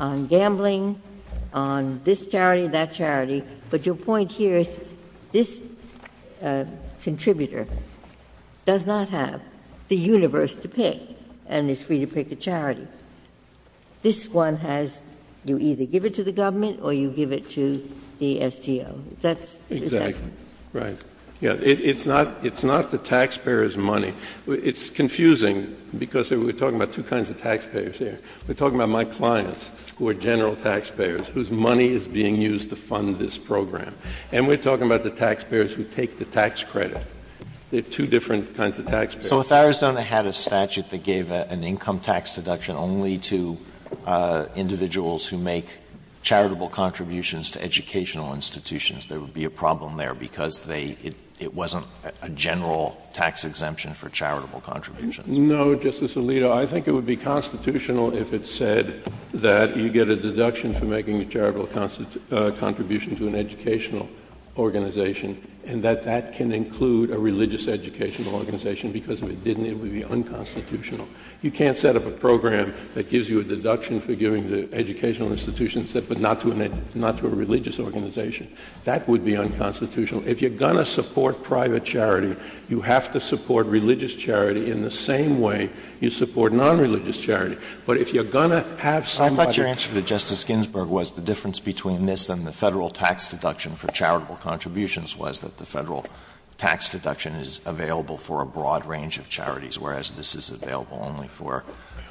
on gambling, on this charity, that charity. But your point here is this contributor does not have the universe to pick and is free to pick a charity. This one has — you either give it to the government or you give it to the STO. Is that — Exactly. Right. It's not — it's not the taxpayer's money. It's confusing because we're talking about two kinds of taxpayers here. We're talking about my clients who are general taxpayers, whose money is being used to fund this program. And we're talking about the taxpayers who take the tax credit. They're two different kinds of taxpayers. So if Arizona had a statute that gave an income tax deduction only to individuals who make charitable contributions to educational institutions, there would be a problem there because they — it wasn't a general tax exemption for charitable contributions. No, Justice Alito. I think it would be constitutional if it said that you get a deduction for making a charitable contribution to an educational organization, and that that can include a religious educational organization, because if it didn't, it would be unconstitutional. You can't set up a program that gives you a deduction for giving to educational institutions, but not to a religious organization. That would be unconstitutional. If you're going to support private charity, you have to support religious charity in the same way you support nonreligious charity. But if you're going to have somebody — I thought your answer to Justice Ginsburg was the difference between this and the Federal tax deduction for charitable contributions was that the Federal tax deduction is available for a broad range of charities, whereas this is available only for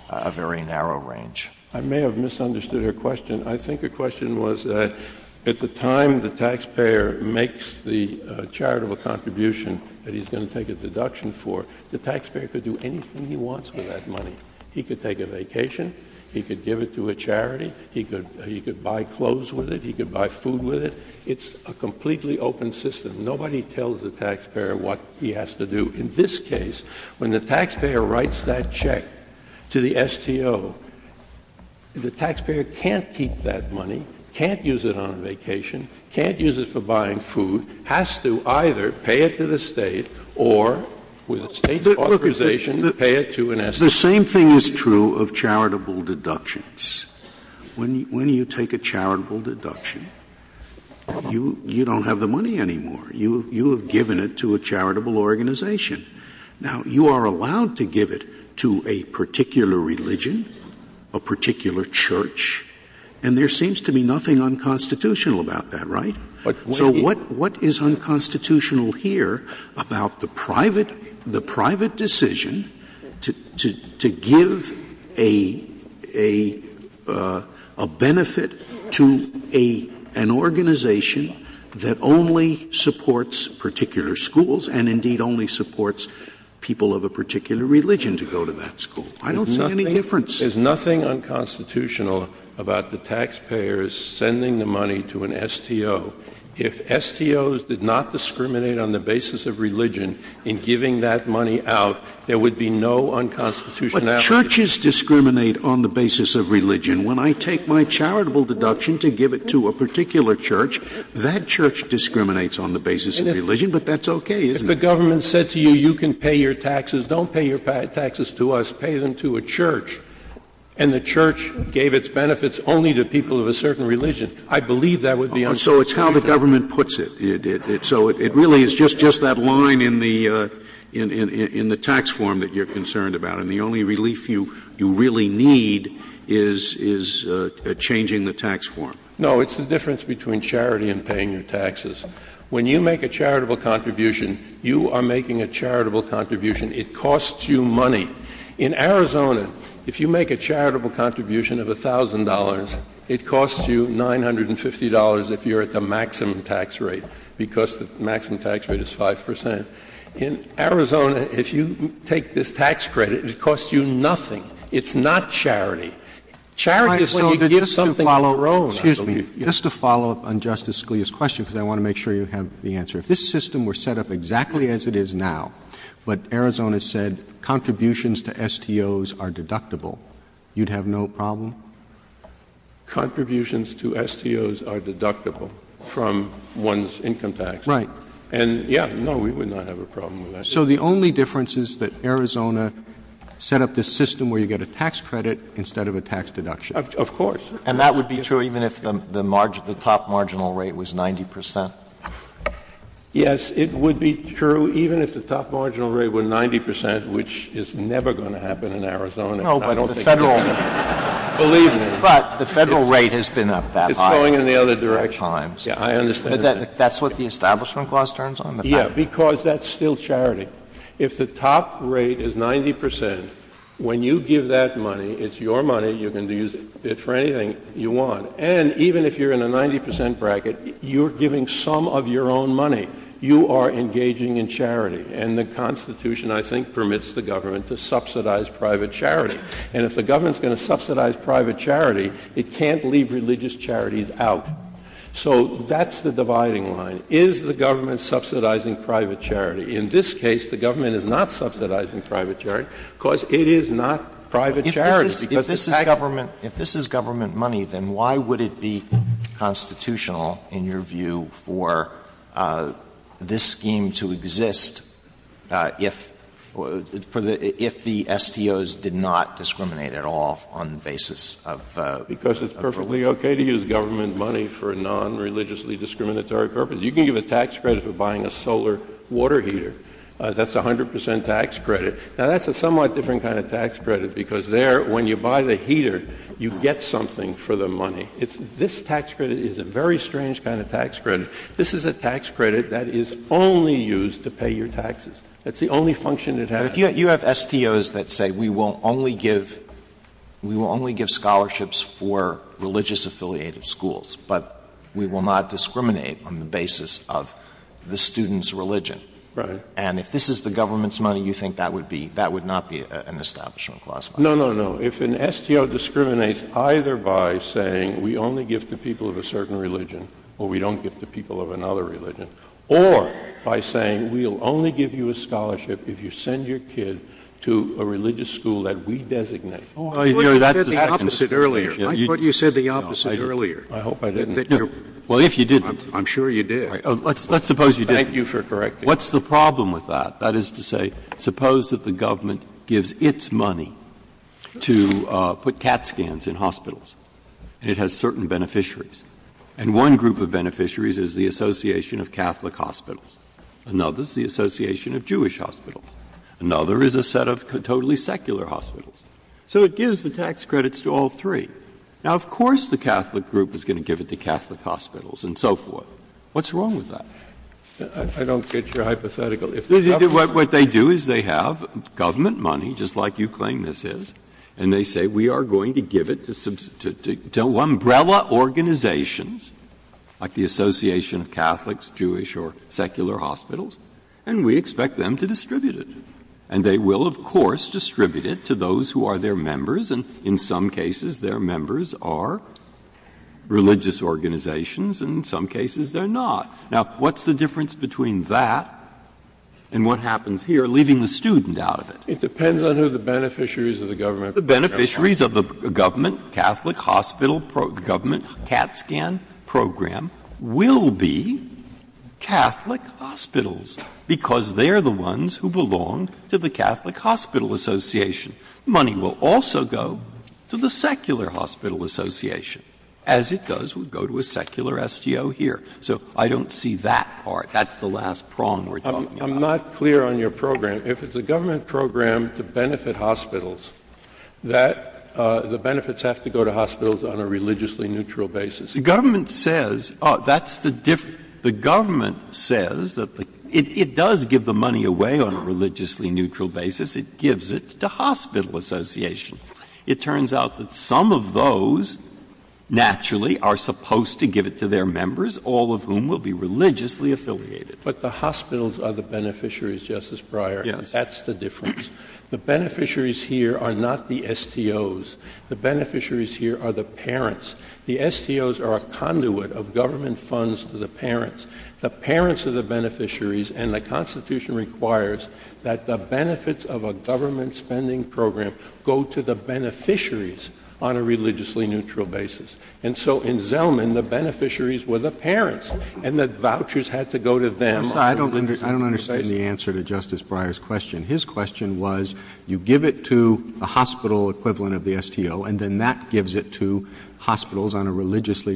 a very narrow range. I may have misunderstood her question. I think her question was that at the time the taxpayer makes the charitable contribution that he's going to take a deduction for, the taxpayer could do anything he wants with that money. He could take a vacation. He could give it to a charity. He could — he could buy clothes with it. He could buy food with it. It's a completely open system. Nobody tells the taxpayer what he has to do. In this case, when the taxpayer writes that check to the STO, the taxpayer can't keep that money, can't use it on a vacation, can't use it for buying food, has to either pay it to the State or, with the State's authorization, pay it to an STO. The same thing is true of charitable deductions. When you take a charitable deduction, you don't have the money anymore. You have given it to a charitable organization. Now, you are allowed to give it to a particular religion, a particular church, and there seems to be nothing unconstitutional about that, right? So what is unconstitutional here about the private — the private decision to give a benefit to an organization that only supports particular schools and indeed only supports people of a particular religion to go to that school? I don't see any difference. There's nothing unconstitutional about the taxpayers sending the money to an STO. If STOs did not discriminate on the basis of religion in giving that money out, there would be no unconstitutional application. Churches discriminate on the basis of religion. When I take my charitable deduction to give it to a particular church, that church discriminates on the basis of religion, but that's okay, isn't it? If the government said to you, you can pay your taxes, don't pay your taxes to us, pay them to a church, and the church gave its benefits only to people of a certain religion, I believe that would be unconstitutional. So it's how the government puts it. So it really is just that line in the tax form that you are concerned about. And the only relief you really need is changing the tax form. No. It's the difference between charity and paying your taxes. When you make a charitable contribution, you are making a charitable contribution. It costs you money. In Arizona, if you make a charitable contribution of $1,000, it costs you $950 if you are at the maximum tax rate, because the maximum tax rate is 5 percent. In Arizona, if you take this tax credit, it costs you nothing. It's not charity. Charity is when you get something of your own, I believe. Roberts. Just to follow up on Justice Scalia's question, because I want to make sure you have the answer. If this system were set up exactly as it is now, but Arizona said contributions to STOs are deductible, you would have no problem? Contributions to STOs are deductible from one's income tax. Right. And, yeah, no, we would not have a problem with that. So the only difference is that Arizona set up this system where you get a tax credit instead of a tax deduction? Of course. And that would be true even if the top marginal rate was 90 percent? Yes, it would be true even if the top marginal rate were 90 percent, which is never going to happen in Arizona. No, but the Federal rate has been up that high. It's going in the other direction. Yeah, I understand that. But that's what the Establishment Clause turns on? Yeah, because that's still charity. If the top rate is 90 percent, when you give that money, it's your money, you can use it for anything you want. And even if you're in a 90 percent bracket, you're giving some of your own money. You are engaging in charity. And the Constitution, I think, permits the government to subsidize private charity. And if the government is going to subsidize private charity, it can't leave religious charities out. So that's the dividing line. Is the government subsidizing private charity? In this case, the government is not subsidizing private charity because it is not private charity. If this is government money, then why would it be constitutional, in your view, for this scheme to exist if the STOs did not discriminate at all on the basis of property? Because it's perfectly okay to use government money for a nonreligiously discriminatory purpose. You can give a tax credit for buying a solar water heater. That's a 100 percent tax credit. Now, that's a somewhat different kind of tax credit because there, when you buy the heater, you get something for the money. This tax credit is a very strange kind of tax credit. This is a tax credit that is only used to pay your taxes. That's the only function it has. But if you have STOs that say we will only give scholarships for religious-affiliated schools, but we will not discriminate on the basis of the student's religion. Right. And if this is the government's money, you think that would be, that would not be an establishment clause? No, no, no. If an STO discriminates either by saying we only give to people of a certain religion or we don't give to people of another religion, or by saying we will only give you a scholarship if you send your kid to a religious school that we designate. Oh, I thought you said the opposite earlier. I thought you said the opposite earlier. I hope I didn't. Well, if you didn't. I'm sure you did. Let's suppose you didn't. Thank you for correcting me. What's the problem with that? That is to say, suppose that the government gives its money to put CAT scans in hospitals and it has certain beneficiaries. And one group of beneficiaries is the Association of Catholic Hospitals. Another is the Association of Jewish Hospitals. Another is a set of totally secular hospitals. So it gives the tax credits to all three. Now, of course the Catholic group is going to give it to Catholic Hospitals and so forth. What's wrong with that? I don't get your hypothetical. What they do is they have government money, just like you claim this is, and they say we are going to give it to umbrella organizations like the Association of Catholics, Jewish, or Secular Hospitals, and we expect them to distribute it. And they will, of course, distribute it to those who are their members, and in some cases their members are religious organizations, and in some cases they are not. Now, what's the difference between that and what happens here, leaving the student out of it? It depends on who the beneficiaries of the government program are. They will be Catholic Hospitals, because they are the ones who belong to the Catholic Hospital Association. Money will also go to the Secular Hospital Association. As it does, it will go to a secular STO here. So I don't see that part. That's the last prong we are talking about. Kennedy, I'm not clear on your program. If it's a government program to benefit hospitals, that the benefits have to go to hospitals on a religiously neutral basis. The government says, oh, that's the difference. The government says that the — it does give the money away on a religiously neutral basis. It gives it to hospital association. It turns out that some of those naturally are supposed to give it to their members, all of whom will be religiously affiliated. But the hospitals are the beneficiaries, Justice Breyer. Yes. That's the difference. The beneficiaries here are not the STOs. The beneficiaries here are the parents. The STOs are a conduit of government funds to the parents. The parents are the beneficiaries, and the Constitution requires that the benefits of a government spending program go to the beneficiaries on a religiously neutral basis. And so in Zelman, the beneficiaries were the parents, and the vouchers had to go to them. I'm sorry. I don't understand the answer to Justice Breyer's question. His question was, you give it to the hospital equivalent of the STO, and then that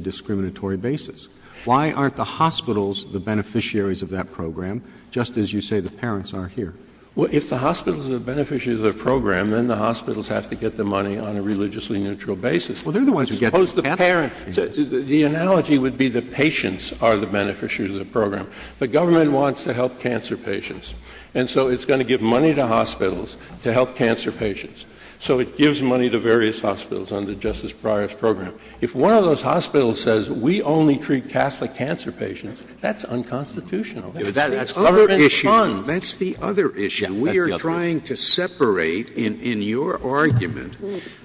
discriminatory basis. Why aren't the hospitals the beneficiaries of that program, just as you say the parents are here? Well, if the hospitals are the beneficiaries of the program, then the hospitals have to get the money on a religiously neutral basis. Well, they're the ones who get it. Suppose the parents — the analogy would be the patients are the beneficiaries of the program. The government wants to help cancer patients, and so it's going to give money to hospitals to help cancer patients. So it gives money to various hospitals under Justice Breyer's program. If one of those hospitals says, we only treat Catholic cancer patients, that's unconstitutional. That's government funds. That's the other issue. That's the other issue. We are trying to separate, in your argument,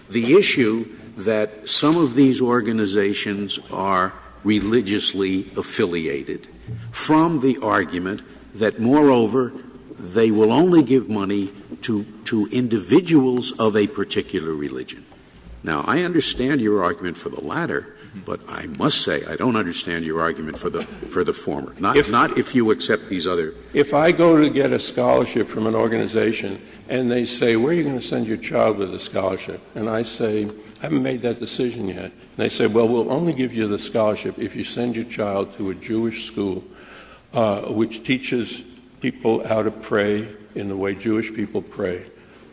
the issue that some of these organizations are religiously affiliated from the argument that, moreover, they will only give money to individuals of a particular religion. Now, I understand your argument for the latter, but I must say I don't understand your argument for the former, not if you accept these other — If I go to get a scholarship from an organization, and they say, where are you going to send your child with a scholarship? And I say, I haven't made that decision yet. And they say, well, we'll only give you the scholarship if you send your child to a Jewish school, which teaches people how to pray in the way Jewish people pray,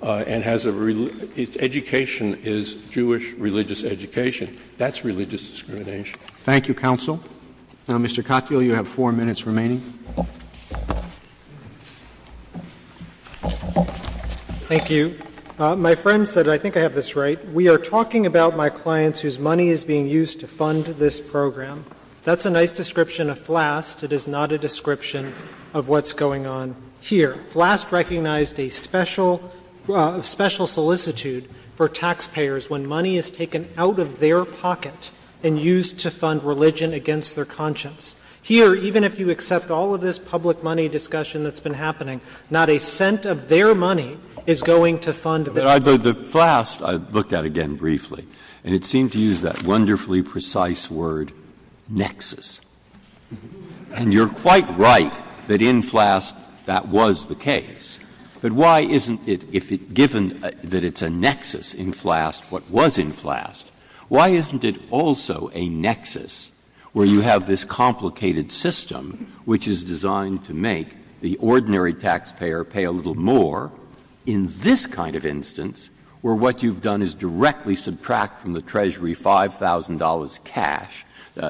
and has a — its education is Jewish religious education. That's religious discrimination. Roberts. Thank you, counsel. Now, Mr. Katyal, you have four minutes remaining. Katyal. Thank you. My friend said, I think I have this right. We are talking about my clients whose money is being used to fund this program. That's a nice description of FLAST. It is not a description of what's going on here. FLAST recognized a special solicitude for taxpayers when money is taken out of their pocket and used to fund religion against their conscience. Here, even if you accept all of this public money discussion that's been happening, not a cent of their money is going to fund this. The FLAST, I looked at again briefly, and it seemed to use that wonderfully precise word, nexus. And you are quite right that in FLAST that was the case. But why isn't it, if it's given that it's a nexus in FLAST what was in FLAST, why isn't it also a nexus where you have this complicated system which is designed to make the ordinary taxpayer pay a little more in this kind of instance where what you have done is directly subtract from the Treasury $5,000 cash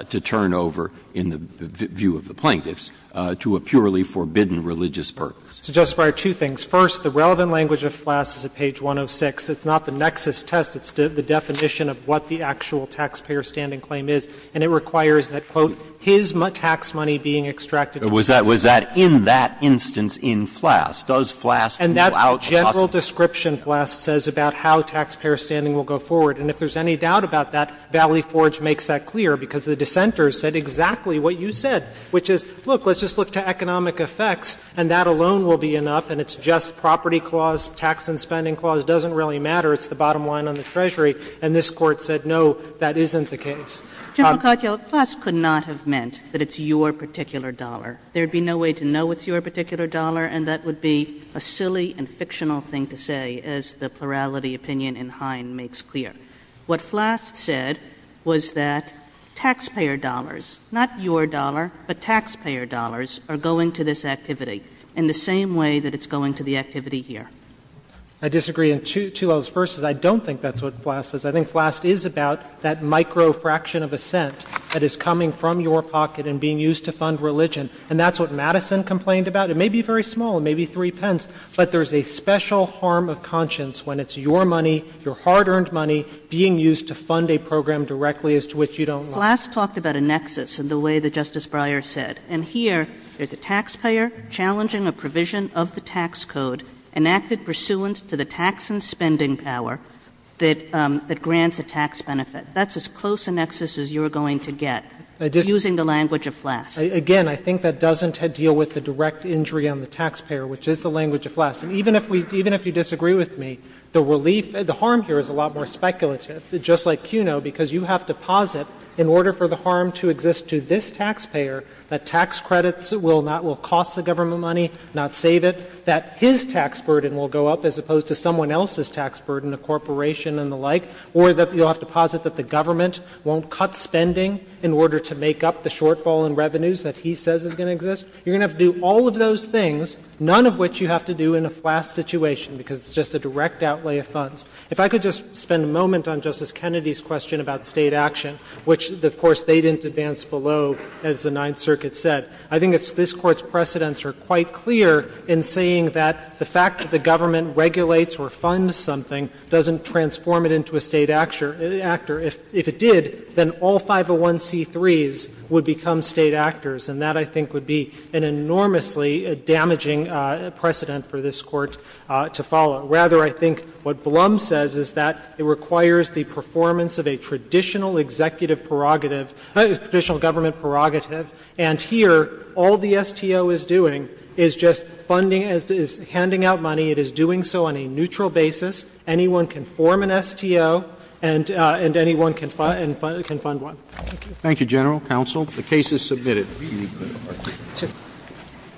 to turn over, in the view of the plaintiffs, to a purely forbidden religious purpose. So, Justice Breyer, two things. First, the relevant language of FLAST is at page 106. It's not the nexus test. It's the definition of what the actual taxpayer standing claim is, and it requires that, quote, his tax money being extracted from his pocket. But was that in that instance in FLAST? Does FLAST rule out a possibility? General description, FLAST says, about how taxpayer standing will go forward. And if there's any doubt about that, Valley Forge makes that clear because the dissenters said exactly what you said, which is, look, let's just look to economic effects and that alone will be enough and it's just property clause, tax and spending clause, doesn't really matter, it's the bottom line on the Treasury. And this Court said, no, that isn't the case. General Katyal, FLAST could not have meant that it's your particular dollar. There would be no way to know it's your particular dollar, and that would be a silly and fictional thing to say, as the plurality opinion in Hine makes clear. What FLAST said was that taxpayer dollars, not your dollar, but taxpayer dollars are going to this activity in the same way that it's going to the activity here. I disagree, and two levels. First is I don't think that's what FLAST says. I think FLAST is about that micro fraction of a cent that is coming from your pocket and being used to fund religion, and that's what Madison complained about. It may be very small, it may be three pence, but there's a special harm of conscience when it's your money, your hard-earned money, being used to fund a program directly as to which you don't want. Flast talked about a nexus in the way that Justice Breyer said. And here, there's a taxpayer challenging a provision of the tax code enacted pursuant to the tax and spending power that grants a tax benefit. That's as close a nexus as you're going to get, using the language of FLAST. Again, I think that doesn't deal with the direct injury on the taxpayer, which is the language of FLAST. And even if we — even if you disagree with me, the relief — the harm here is a lot more speculative, just like CUNO, because you have to posit in order for the harm to exist to this taxpayer, that tax credits will not — will cost the government money, not save it, that his tax burden will go up as opposed to someone else's tax burden, a corporation and the like, or that you'll have to posit that the government won't cut spending in order to make up the shortfall in revenues that he says is going to exist. You're going to have to do all of those things, none of which you have to do in a FLAST situation, because it's just a direct outlay of funds. If I could just spend a moment on Justice Kennedy's question about State action, which, of course, they didn't advance below, as the Ninth Circuit said. I think this Court's precedents are quite clear in saying that the fact that the government regulates or funds something doesn't transform it into a State actor. If it did, then all 501c3s would become State actors, and that, I think, would be an enormously damaging precedent for this Court to follow. Rather, I think what Blum says is that it requires the performance of a traditional executive prerogative — traditional government prerogative. And here, all the STO is doing is just funding — is handing out money. It is doing so on a neutral basis. Anyone can form an STO, and anyone can fund one. Thank you. Roberts. Thank you, General Counsel. The case is submitted.